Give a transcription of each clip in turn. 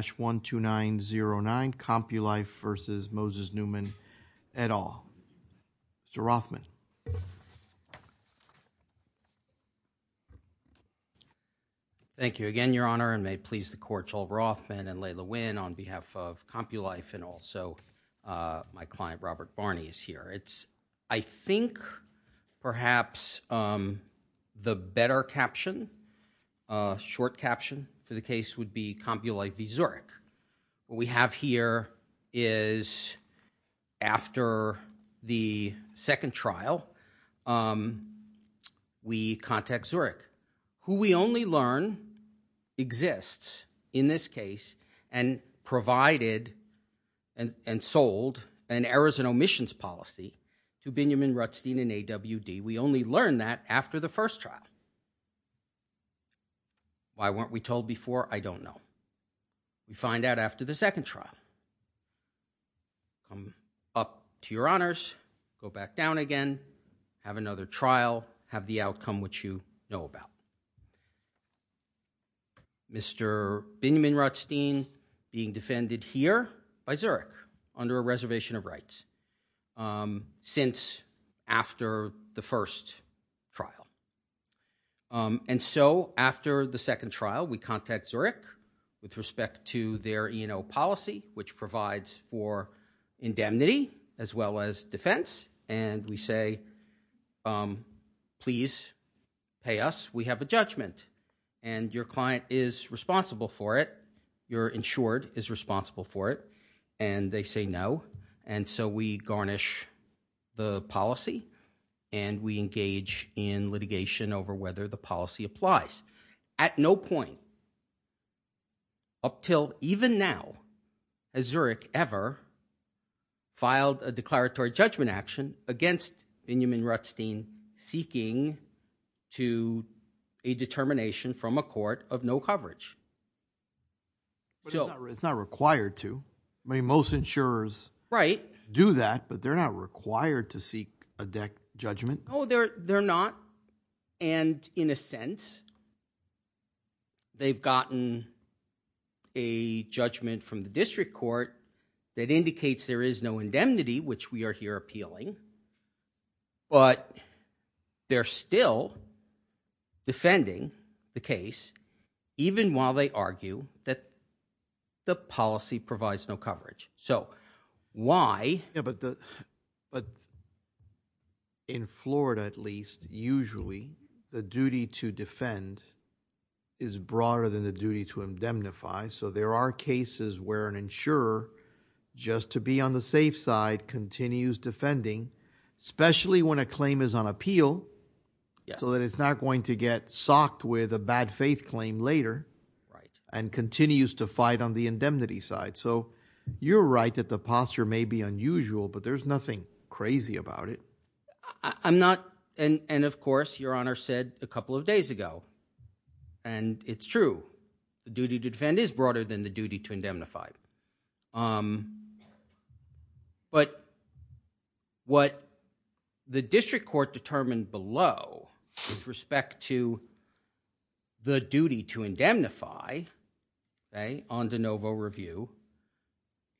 1-2909 Compulife v. Moses Newman et al. Mr. Rothman. Thank you again, Your Honor, and may it please the Court, Joel Rothman and Leila Wynn on behalf of Compulife and also my client Robert Barney is here. I think perhaps the better caption, short caption for the case would be Compulife v. Zurich. What we have here is after the second trial, we contact Zurich, who we only learn exists in this case and provided and sold an errors and omissions policy to Biniam and Rutstein and AWD. We only learn that after the first trial. Why weren't we told before? I don't know. We find out after the second trial. Up to Your Honors, go back down again, have another trial, have the outcome which you know about. Mr. Biniam and Rutstein being defended here by Zurich under a reservation of rights since after the first trial. And so after the second trial, we contact Zurich with respect to their E&O policy which provides for indemnity as well as defense and we say, please pay us, we have a judgment. And your client is responsible for it. You're insured is responsible for it. And they say no. And so we garnish the policy and we engage in litigation over whether the policy applies. At no point up till even now has Zurich ever filed a declaratory judgment action against Biniam and Rutstein seeking to a determination from a court of no coverage. But it's not required to. I mean, most insurers do that but they're not required to seek a deck judgment. Oh, they're not. And in a sense, they've gotten a judgment from the district court that indicates there is no indemnity which we are here appealing. But they're still defending the case even while they argue that the policy provides no coverage. So why? In Florida at least, usually, the duty to defend is broader than the duty to indemnify. So there are cases where an insurer just to be on the safe side continues defending especially when a claim is on appeal so that it's not going to get socked with a bad faith claim later and continues to fight on the indemnity side. So you're right that the posture may be unusual but there's nothing crazy about it. I'm not and of course, Your Honor said a couple of days ago and it's true. The duty to defend is broader than the duty to indemnify. But what the district court determined below with respect to the duty to indemnify on de novo review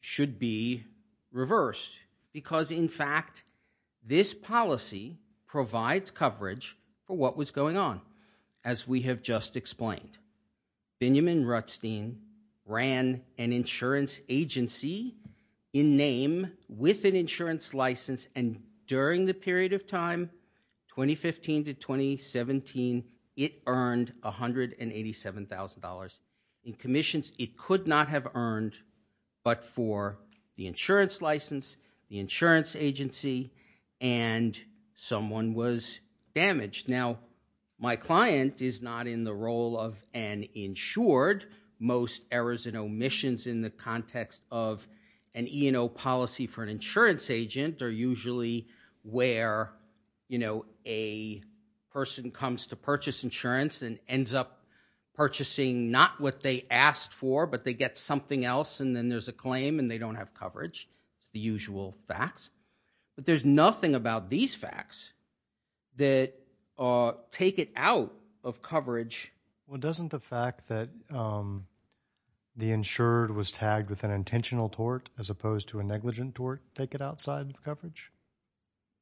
should be reversed because in fact this policy provides coverage for what was going on as we have just explained. Benjamin Rutstein ran an insurance agency in name with an insurance license and during the period of time 2015 to 2017, it earned $187,000 in commissions it could not have earned but for the insurance license, the insurance agency and someone was damaged. Now, my client is not in the role of an insured. Most errors and omissions in the context of an E&O policy for an insurance agent are usually where, you know, a person comes to purchase insurance and ends up purchasing not what they asked for but they get something else and then there's a claim and they don't have coverage, the usual facts. But there's nothing about these facts that take it out of coverage. Well, doesn't the fact that the insured was tagged with an intentional tort as opposed to a negligent tort take it outside of coverage?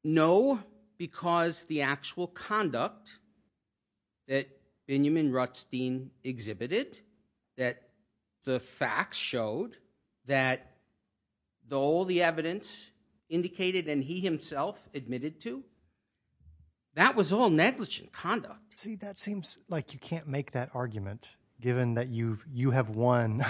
No because the actual conduct that Benjamin Rutstein exhibited that the facts showed that all the evidence indicated and he himself admitted to, that was all negligent conduct. See, that seems like you can't make that argument given that you have won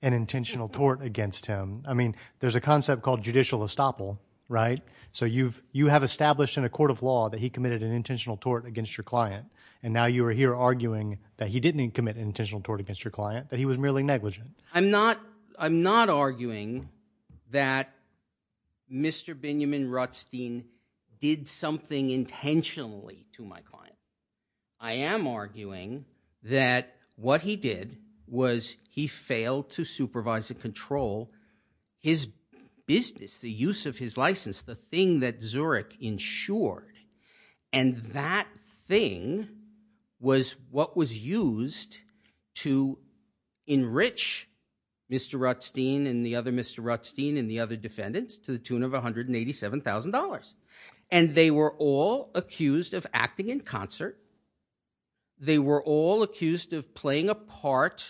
an intentional tort against him. I mean, there's a concept called judicial estoppel, right? So you have established in a court of law that he committed an intentional tort against your client and now you are here arguing that he didn't commit an intentional tort against your client, that he was merely negligent. I'm not arguing that Mr. Benjamin Rutstein did something intentionally to my client. I am arguing that what he did was he failed to supervise and control his business, the use of his license, the thing that Zurich insured and that thing was what was used to enrich Mr. Rutstein and the other Mr. Rutstein and the other defendants to the tune of $187,000. And they were all accused of acting in concert. They were all accused of playing a part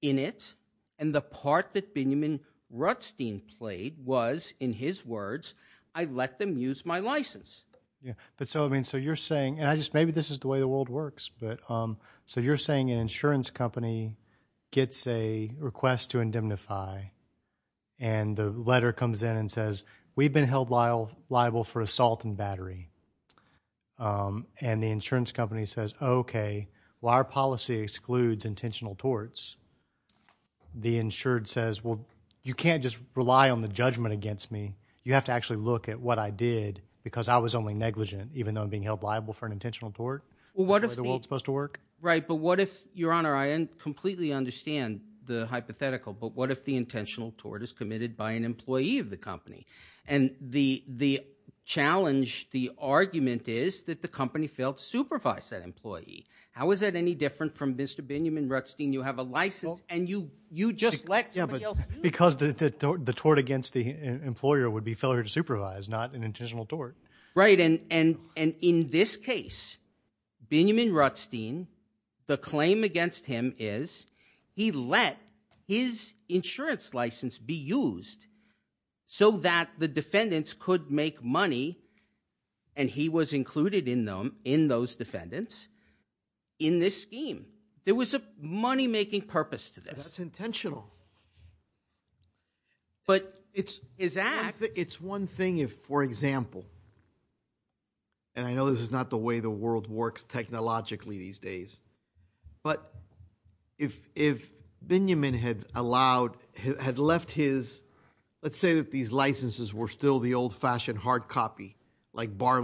in it and the part that Benjamin Rutstein played was, in his words, I let them use my license. Yeah, but so I mean, so you're saying and I just maybe this is the way the world works but so you're saying an insurance company gets a request to indemnify and the letter comes in and says, we've been held liable for assault and battery. And the insurance company says, okay, well, our policy excludes intentional torts. The insured says, well, you can't just rely on the judgment against me. You have to actually look at what I did because I was only negligent even though I'm being held liable for an intentional tort. Well, what if the world's supposed to work? Right, but what if, Your Honor, I completely understand the hypothetical, but what if the intentional tort is committed by an employee of the company? And the challenge, the argument is that the company failed to supervise that employee. How is that any different from Mr. Benjamin Rutstein? You have a license and you just let somebody else do it. Yeah, but because the tort against the employer would be failure to supervise, not an intentional tort. Right, and in this case, Benjamin Rutstein, the claim against him is he let his insurance license be used so that the defendants could make money and he was included in them, in those defendants, in this scheme. There was a money-making purpose to this. That's intentional. But it's one thing if, for example, and I know this is not the way the world works technologically these days, but if Benjamin had allowed, had left his, let's say that these licenses were still the old-fashioned hard copy, like bar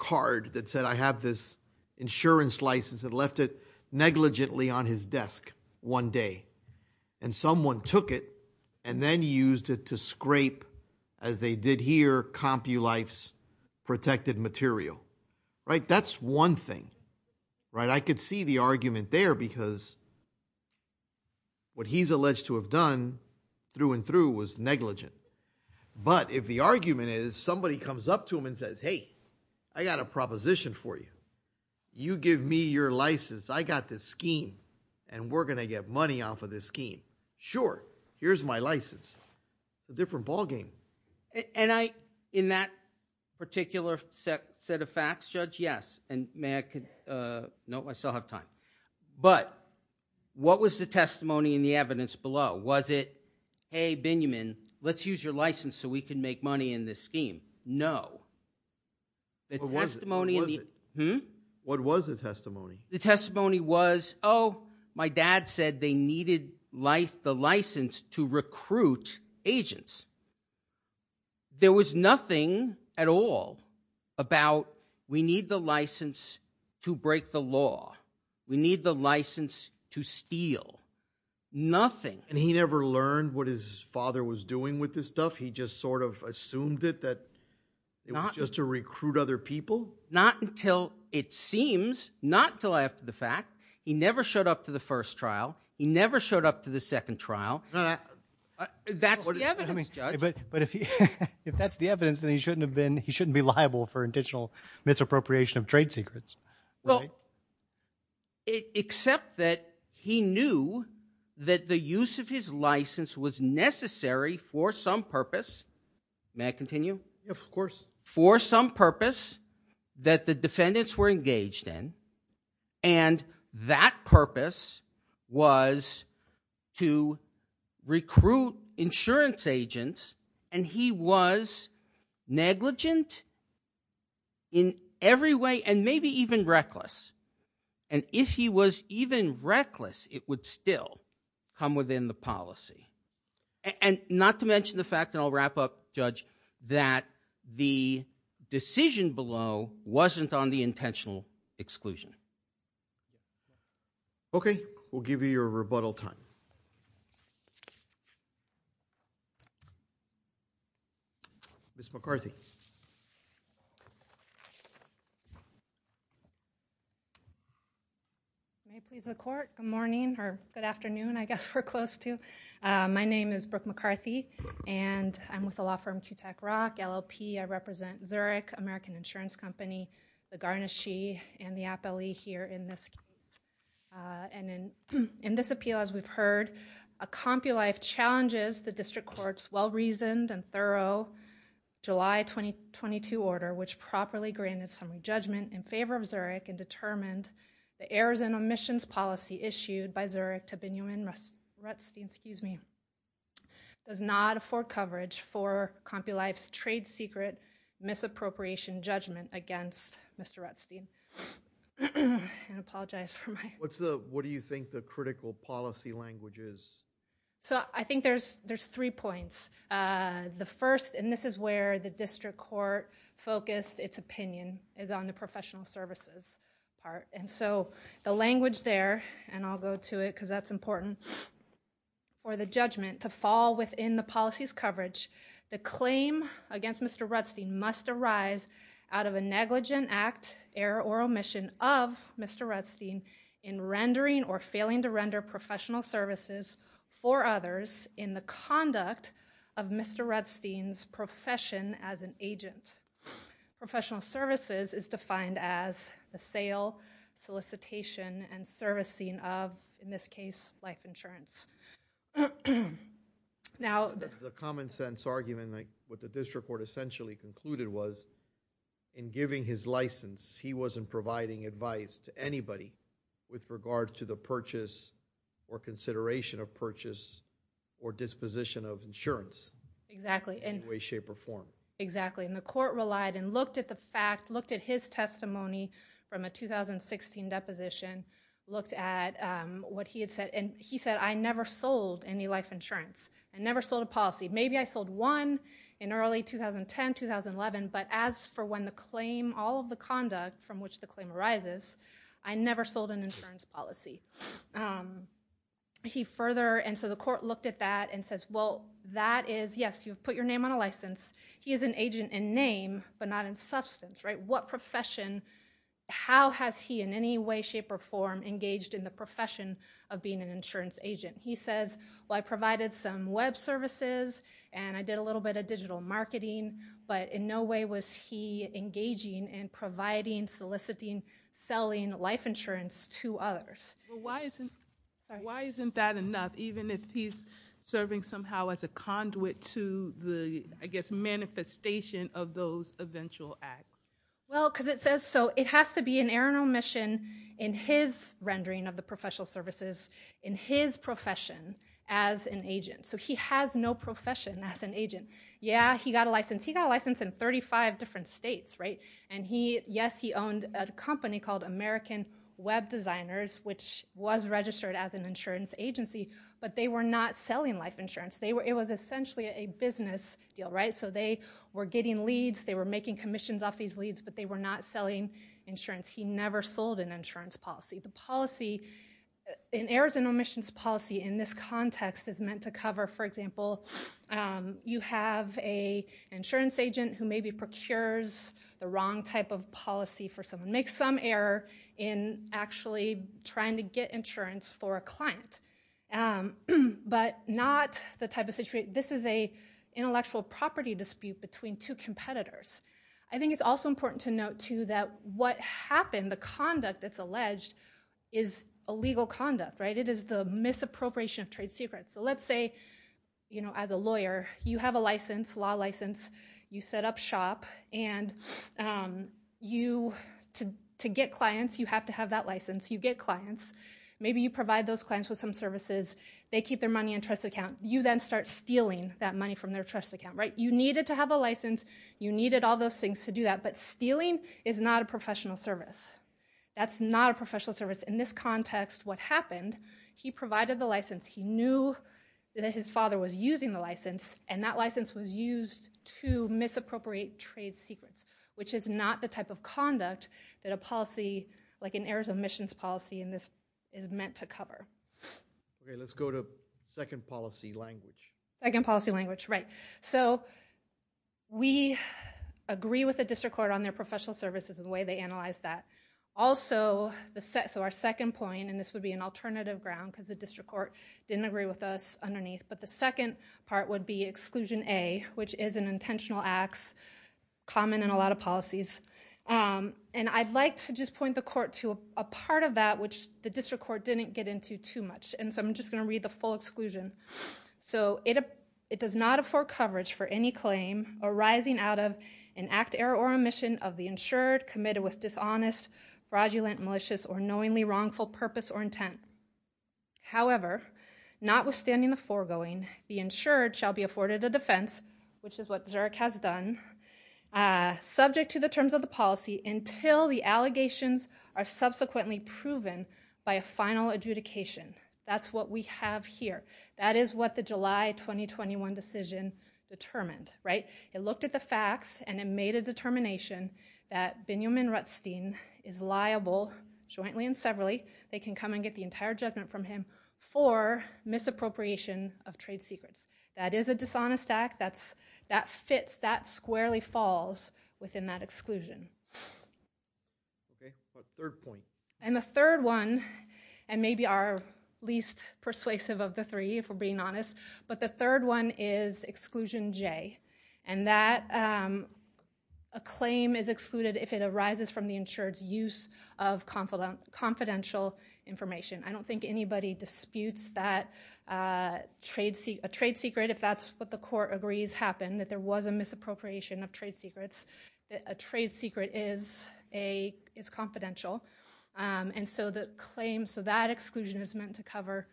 cards, I have this insurance license and left it negligently on his desk one day and someone took it and then used it to scrape, as they did here, CompuLife's protected material. Right, that's one thing. Right, I could see the argument there because what he's alleged to have done through and through was negligent. But if the argument is somebody comes up to him and says, hey, I got a proposition for you. You give me your license. I got this scheme and we're going to get money off of this scheme. Sure, here's my license. A different ballgame. And I, in that particular set of facts, Judge, yes, and may I, no, I still have time. But what was the testimony in the evidence below? Was it, hey, Benjamin, let's use your license so we can make money in this scheme? No. What was the testimony? The testimony was, oh, my dad said they needed the license to recruit agents. There was nothing at all about we need the license to break the law. We need the license to steal. Nothing. And he never learned what his father was doing with this stuff? He just sort of assumed it that it was just to recruit other people? Not until it seems, not until after the fact. He never showed up to the first trial. He never showed up to the second trial. That's the evidence, Judge. But if that's the evidence, then he shouldn't have been, he shouldn't be liable for intentional misappropriation of trade secrets. Well, except that he knew that the use of his license was necessary for some purpose. May I continue? Of course. For some purpose that the defendants were engaged in. And that purpose was to recruit insurance agents and he was negligent in every way and maybe even reckless. And if he was even reckless, it would still come within the policy. And not to mention the fact, and I'll wrap up, Judge, that the decision below wasn't on the intentional exclusion. Okay. We'll give you your rebuttal time. Ms. McCarthy. May I proceed? Yes, please proceed. Okay. Good morning or good afternoon, I guess we're close to. My name is Brooke McCarthy and I'm with the law firm QTAC Rock, LLP. I represent Zurich, American Insurance Company, the Garnasche and the Appellee here in this case. And in this appeal, as we've heard, a compulife challenges the district court's well-reasoned and thorough July 2022 order, which properly granted some judgment in favor of Zurich and determined the errors and omissions policy issued by Zurich to Binyamin Rutzstein does not afford coverage for compulife's trade secret misappropriation judgment against Mr. Rutzstein. I apologize for my. What do you think the critical policy language is? So I think there's three points. The first, and this is where the district court focused its opinion, is on the professional services part. And so the language there, and I'll go to it because that's important for the judgment to fall within the policy's coverage. The claim against Mr. Rutzstein must arise out of a negligent act error or omission of Mr. Rutzstein in rendering or failing to render professional services for an agent. Professional services is defined as the sale, solicitation, and servicing of, in this case, life insurance. Now. The common sense argument, like what the district court essentially concluded was, in giving his license, he wasn't providing advice to anybody with regard to the purchase or consideration of purchase or disposition of insurance. Exactly. In way, shape, or form. Exactly. And the court relied and looked at the fact, looked at his testimony from a 2016 deposition, looked at what he had said, and he said, I never sold any life insurance. I never sold a policy. Maybe I sold one in early 2010, 2011, but as for when the claim, all of the conduct from which the claim arises, I never sold an insurance policy. He further, and so the court looked at that and says, well, that is, yes, you've put your name on a license. He is an agent in name, but not in substance. What profession, how has he in any way, shape, or form engaged in the profession of being an insurance agent? He says, well, I provided some web services and I did a little bit of digital marketing, but in no way was he engaging in providing, soliciting, selling life insurance to others. Why isn't that enough, even if he's serving somehow as a conduit to the, I guess, manifestation of those eventual acts? Well, because it says so. It has to be an erroneous omission in his rendering of the professional services, in his profession as an agent. So he has no profession as an agent. Yeah, he got a license. He got a license in web designers, which was registered as an insurance agency, but they were not selling life insurance. It was essentially a business deal, right? So they were getting leads, they were making commissions off these leads, but they were not selling insurance. He never sold an insurance policy. The policy, an errors and omissions policy in this context is meant to cover, for example, you have a insurance agent who maybe procures the wrong type of insurance, who's essentially trying to get insurance for a client, but not the type of situation, this is an intellectual property dispute between two competitors. I think it's also important to note, too, that what happened, the conduct that's alleged, is illegal conduct, right? It is the misappropriation of trade secrets. So let's say, as a lawyer, you have a license, law license, you set up shop, and to get clients, you have to have that license, you get clients, maybe you provide those clients with some services, they keep their money in a trust account, you then start stealing that money from their trust account, right? You needed to have a license, you needed all those things to do that, but stealing is not a professional service. That's not a professional service. In this context, what happened, he provided the license, he knew that his father was using the license, and that license was used to misappropriate trade secrets, which is not the type of conduct that a policy, like an errors of missions policy in this, is meant to cover. Okay, let's go to second policy language. Second policy language, right. So, we agree with the district court on their professional services and the way they analyze that. Also, so our second point, and this would be an alternative ground, because the district court didn't agree with us underneath, but the second part would be exclusion A, which is an intentional acts, common in a lot of policies. And I'd like to just point the court to a part of that which the district court didn't get into too much, and so I'm just going to read the full exclusion. So, it does not afford coverage for any claim arising out of an act, error, or omission of the insured, committed with dishonest, fraudulent, malicious, or knowingly wrongful purpose or intent. However, notwithstanding the foregoing, the insured shall be afforded a defense, which is what Zurek has done, subject to the terms of the policy until the allegations are subsequently proven by a final adjudication. That's what we have here. That is what the July 2021 decision determined, right. It looked at the facts and it made a determination that Binyamin Rutstein is liable jointly and severally. They can come and get the entire judgment from him for misappropriation of trade secrets. That is a dishonest act. That fits, that squarely falls within that exclusion. And the third one, and maybe our least persuasive of the three, if we're being honest, but the third one is exclusion J, and that a claim is excluded if it arises from the insured's use of confidential information. I don't think anybody disputes that a trade secret, if that's what the court agrees happened, that there was a misappropriation of trade secrets. A trade secret is confidential, and so that exclusion is meant to cover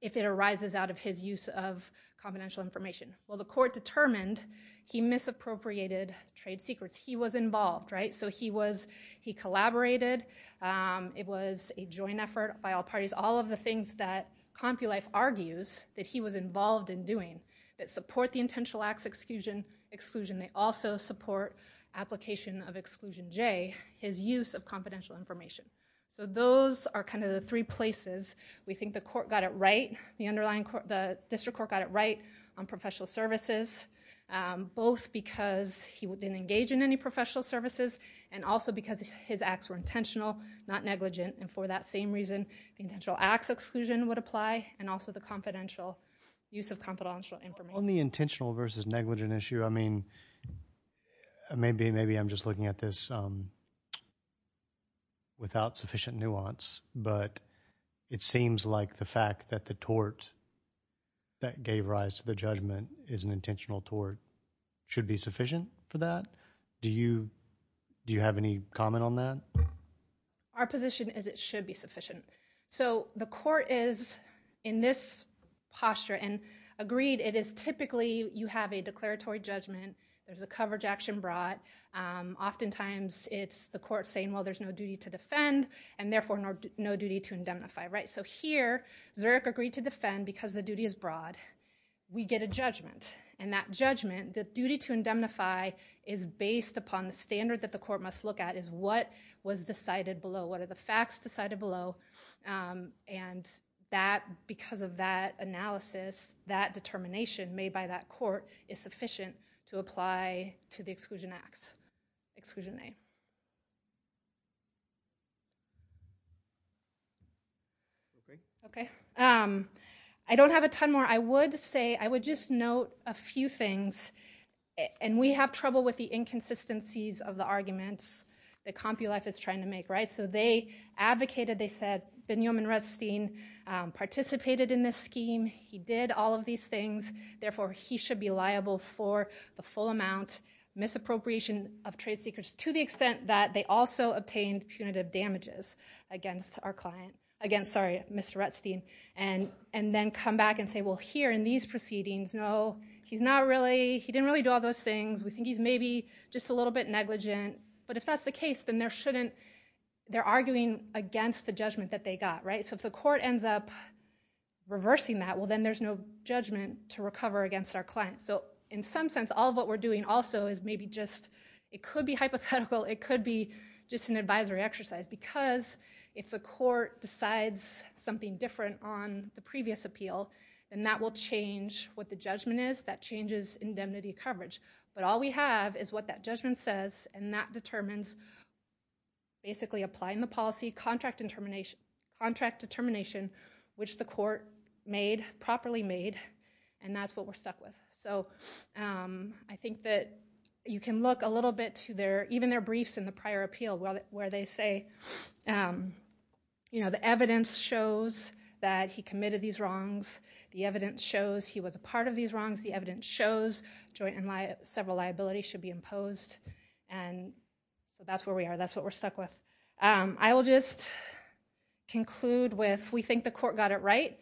if it arises out of his use of confidential information. Well, the court determined he misappropriated trade secrets. He was involved, right. So he collaborated. It was a joint effort by all parties. All of the things that CompuLife argues that he was involved in doing that support the intentional acts exclusion, they also support application of exclusion J, his use of confidential information. So those are kind of the three places we think the court got it right, the underlying court, the district court got it right on professional services, both because he didn't engage in any professional services, and also because his acts were intentional, not negligent, and for that same reason, the intentional acts exclusion would apply, and also the confidential use of confidential information. On the intentional versus negligent issue, I mean, maybe I'm just looking at this without sufficient nuance, but it seems like the fact that the tort that gave rise to the judgment is an intentional tort should be sufficient for that. Do you have any comment on that? Our position is it should be sufficient. So the court is in this posture and agreed it is typically you have a declaratory judgment. There's a coverage action brought. Oftentimes it's the court saying, well, there's no duty to defend, and therefore no duty to indemnify, right? So here, Zurich agreed to defend because the duty is broad. We get a judgment, and that judgment, the duty to indemnify is based upon the standard that the court must look at is what was decided below. What are the facts decided below, and that, because of that analysis, that determination made by that court is sufficient to apply to the exclusion acts, exclusion A. Okay. I don't have a ton more. I would say I would just note a few things, and we have trouble with the inconsistencies of the arguments that CompuLife is trying to make, right? So they advocated, they said, Benjamin Redstein participated in this scheme. He did all of these things. Therefore, he should be liable for the full amount misappropriation of trade secrets to the Mr. Redstein, and then come back and say, well, here in these proceedings, no, he's not really, he didn't really do all those things. We think he's maybe just a little bit negligent, but if that's the case, then there shouldn't, they're arguing against the judgment that they got, right? So if the court ends up reversing that, well, then there's no judgment to recover against our client. So in some sense, all of what we're doing also is maybe just, it could be hypothetical, it could be just an advisory exercise, because if the court decides something different on the previous appeal, then that will change what the judgment is, that changes indemnity coverage. But all we have is what that judgment says, and that determines basically applying the policy, contract determination, which the court made, properly made, and that's what we're stuck with. So I think that you can look a little bit to their, even their briefs in the prior appeal, where they say, you know, the evidence shows that he committed these wrongs, the evidence shows he was a part of these wrongs, the evidence shows joint and several liabilities should be imposed, and so that's where we are, that's what we're stuck with. I will just conclude with, we think the court got it right.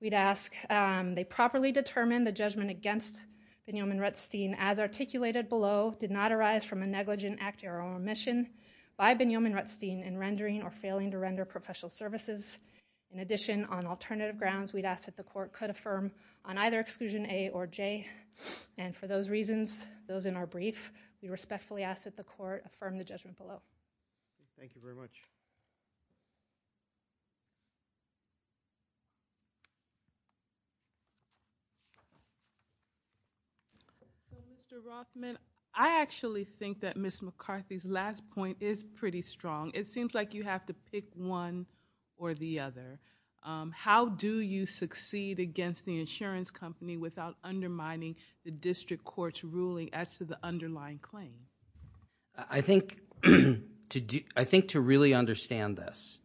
We'd ask they properly determine the judgment against Binyamin Rutstein as articulated below, did not arise from a negligent act or omission by Binyamin Rutstein in rendering or failing to render professional services. In addition, on alternative grounds, we'd ask that the court could affirm on either exclusion A or J, and for those reasons, those in our brief, we respectfully ask that the court affirm the judgment below. Thank you very much. Mr. Rothman, I actually think that Ms. McCarthy's last point is pretty strong. It seems like you have to pick one or the other. How do you succeed against the insurance company without undermining the district court's ruling as to the underlying claim? I think, I think to really understand this,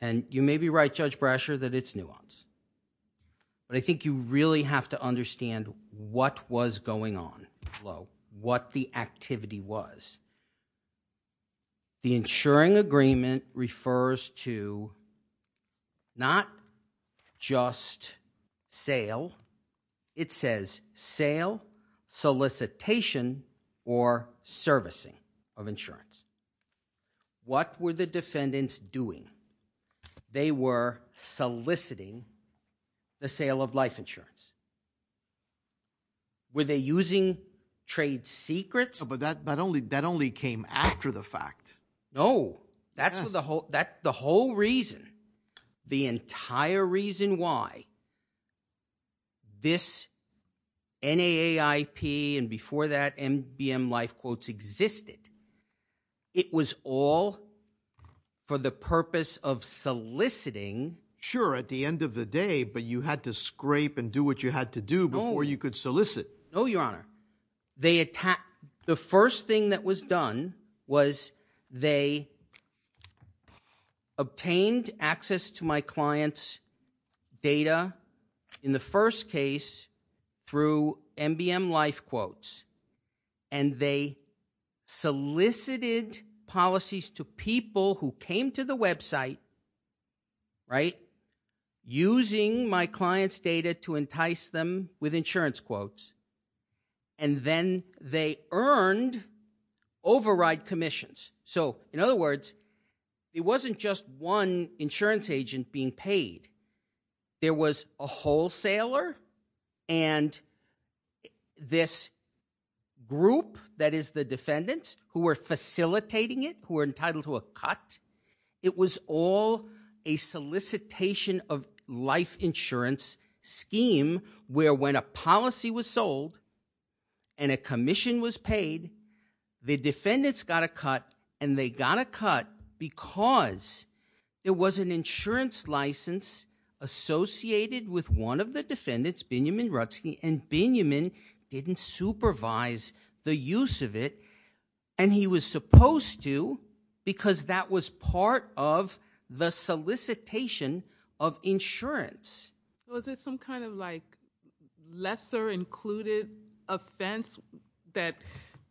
and you may be right, Judge Brasher, that it's nuance, but I think you really have to understand what was going on below, what the activity was. The insuring agreement refers to not just sale, it says sale, solicitation, or servicing of insurance. What were the defendants doing? They were soliciting the sale of life insurance. Were they using trade secrets? But that, but only, that only came after the fact. No, that's what the whole, that the whole reason, the entire reason why this NAIP, and before that, MBM LifeQuotes existed, it was all for the purpose of soliciting. Sure, at the end of the day, but you had to scrape and do what you had to do before you could solicit. No, Your Honor, they attacked, the first thing that was done was they obtained access to my client's data, in the first case, through MBM LifeQuotes, and they solicited policies to people who came to the website, right, using my client's data to entice them with insurance quotes, and then they earned override commissions. So, in other words, it wasn't just one insurance agent being paid. There was a wholesaler, and this group that is the defendants who were facilitating it, who were entitled to a cut, it was all a solicitation of life insurance scheme, where when a policy was sold, and a commission was paid, the defendants got a cut, and they got a cut because there was an insurance license associated with one of the defendants, Benjamin Rutzke, and Benjamin didn't supervise the use of it, and he was supposed to because that was part of the solicitation of insurance. Was it some kind of like lesser included offense that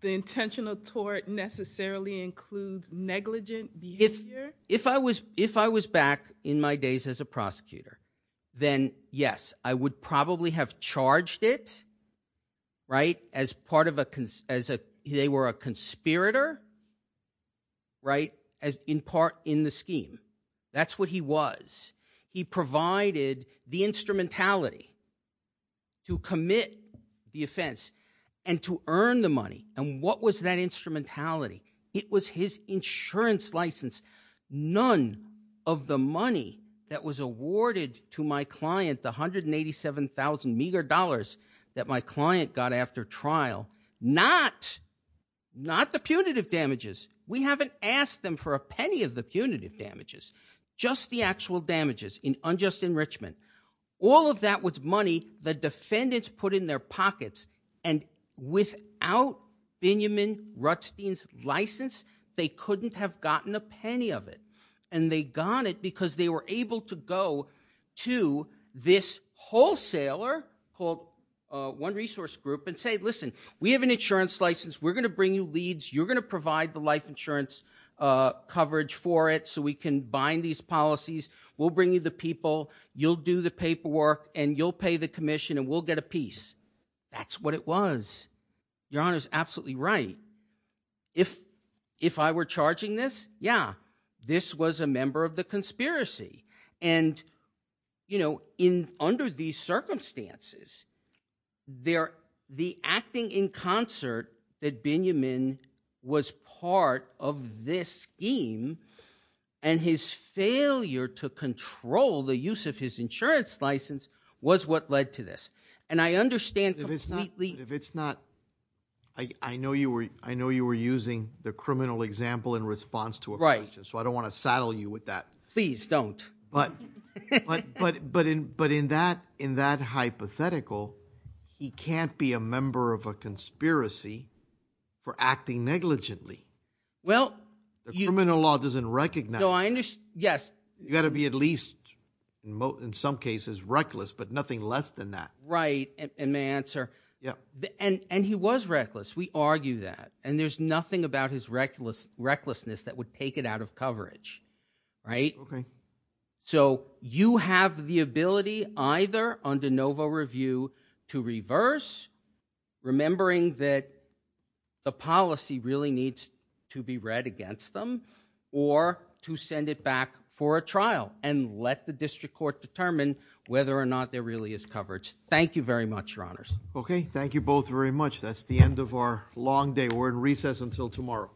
the intentional tort necessarily includes negligent behavior? If I was back in my days as a prosecutor, then yes, I would probably have charged it, right, as part of a, as a, they were a conspirator, right, as in part in the scheme. That's what he was. He provided the instrumentality to commit the offense and to earn the money, and what was that instrumentality? It was his to my client, the 187,000 meager dollars that my client got after trial, not, not the punitive damages. We haven't asked them for a penny of the punitive damages, just the actual damages in unjust enrichment. All of that was money the defendants put in their pockets, and without Benjamin Rutzke's license, they couldn't have gotten a penny of it, and they got it because they were able to go to this wholesaler called One Resource Group and say, listen, we have an insurance license. We're going to bring you leads. You're going to provide the life insurance coverage for it so we can bind these policies. We'll bring you the people. You'll do the paperwork, and you'll pay the commission, and we'll get a piece. That's what it was. Your Honor is absolutely right. If, if I were charging this, yeah, this was a member of the conspiracy, and, you know, in, under these circumstances, they're, the acting in concert that Benjamin was part of this scheme, and his failure to control the use of his insurance license was what led to this, and I understand. If it's not, if it's not, I, I know you were, I know you were using the criminal example in response to a question, so I don't want to saddle you with that. Please don't. But, but, but, but in, but in that, in that hypothetical, he can't be a member of a conspiracy for acting negligently. Well. The criminal law doesn't recognize. No, I understand, yes. You got to be at least, in some cases, reckless, but nothing less than that. Right, and my answer, yeah, and, and he was reckless. We argue that, and there's nothing about his reckless, recklessness that would take it out of coverage, right? Okay. So you have the ability either under Novo Review to reverse, remembering that the policy really needs to be read against them, or to send it back for a trial and let the district court determine whether or not there really is coverage. Thank you very much, your honors. Okay, thank you both very much. That's the end of our long day. We're in recess until tomorrow.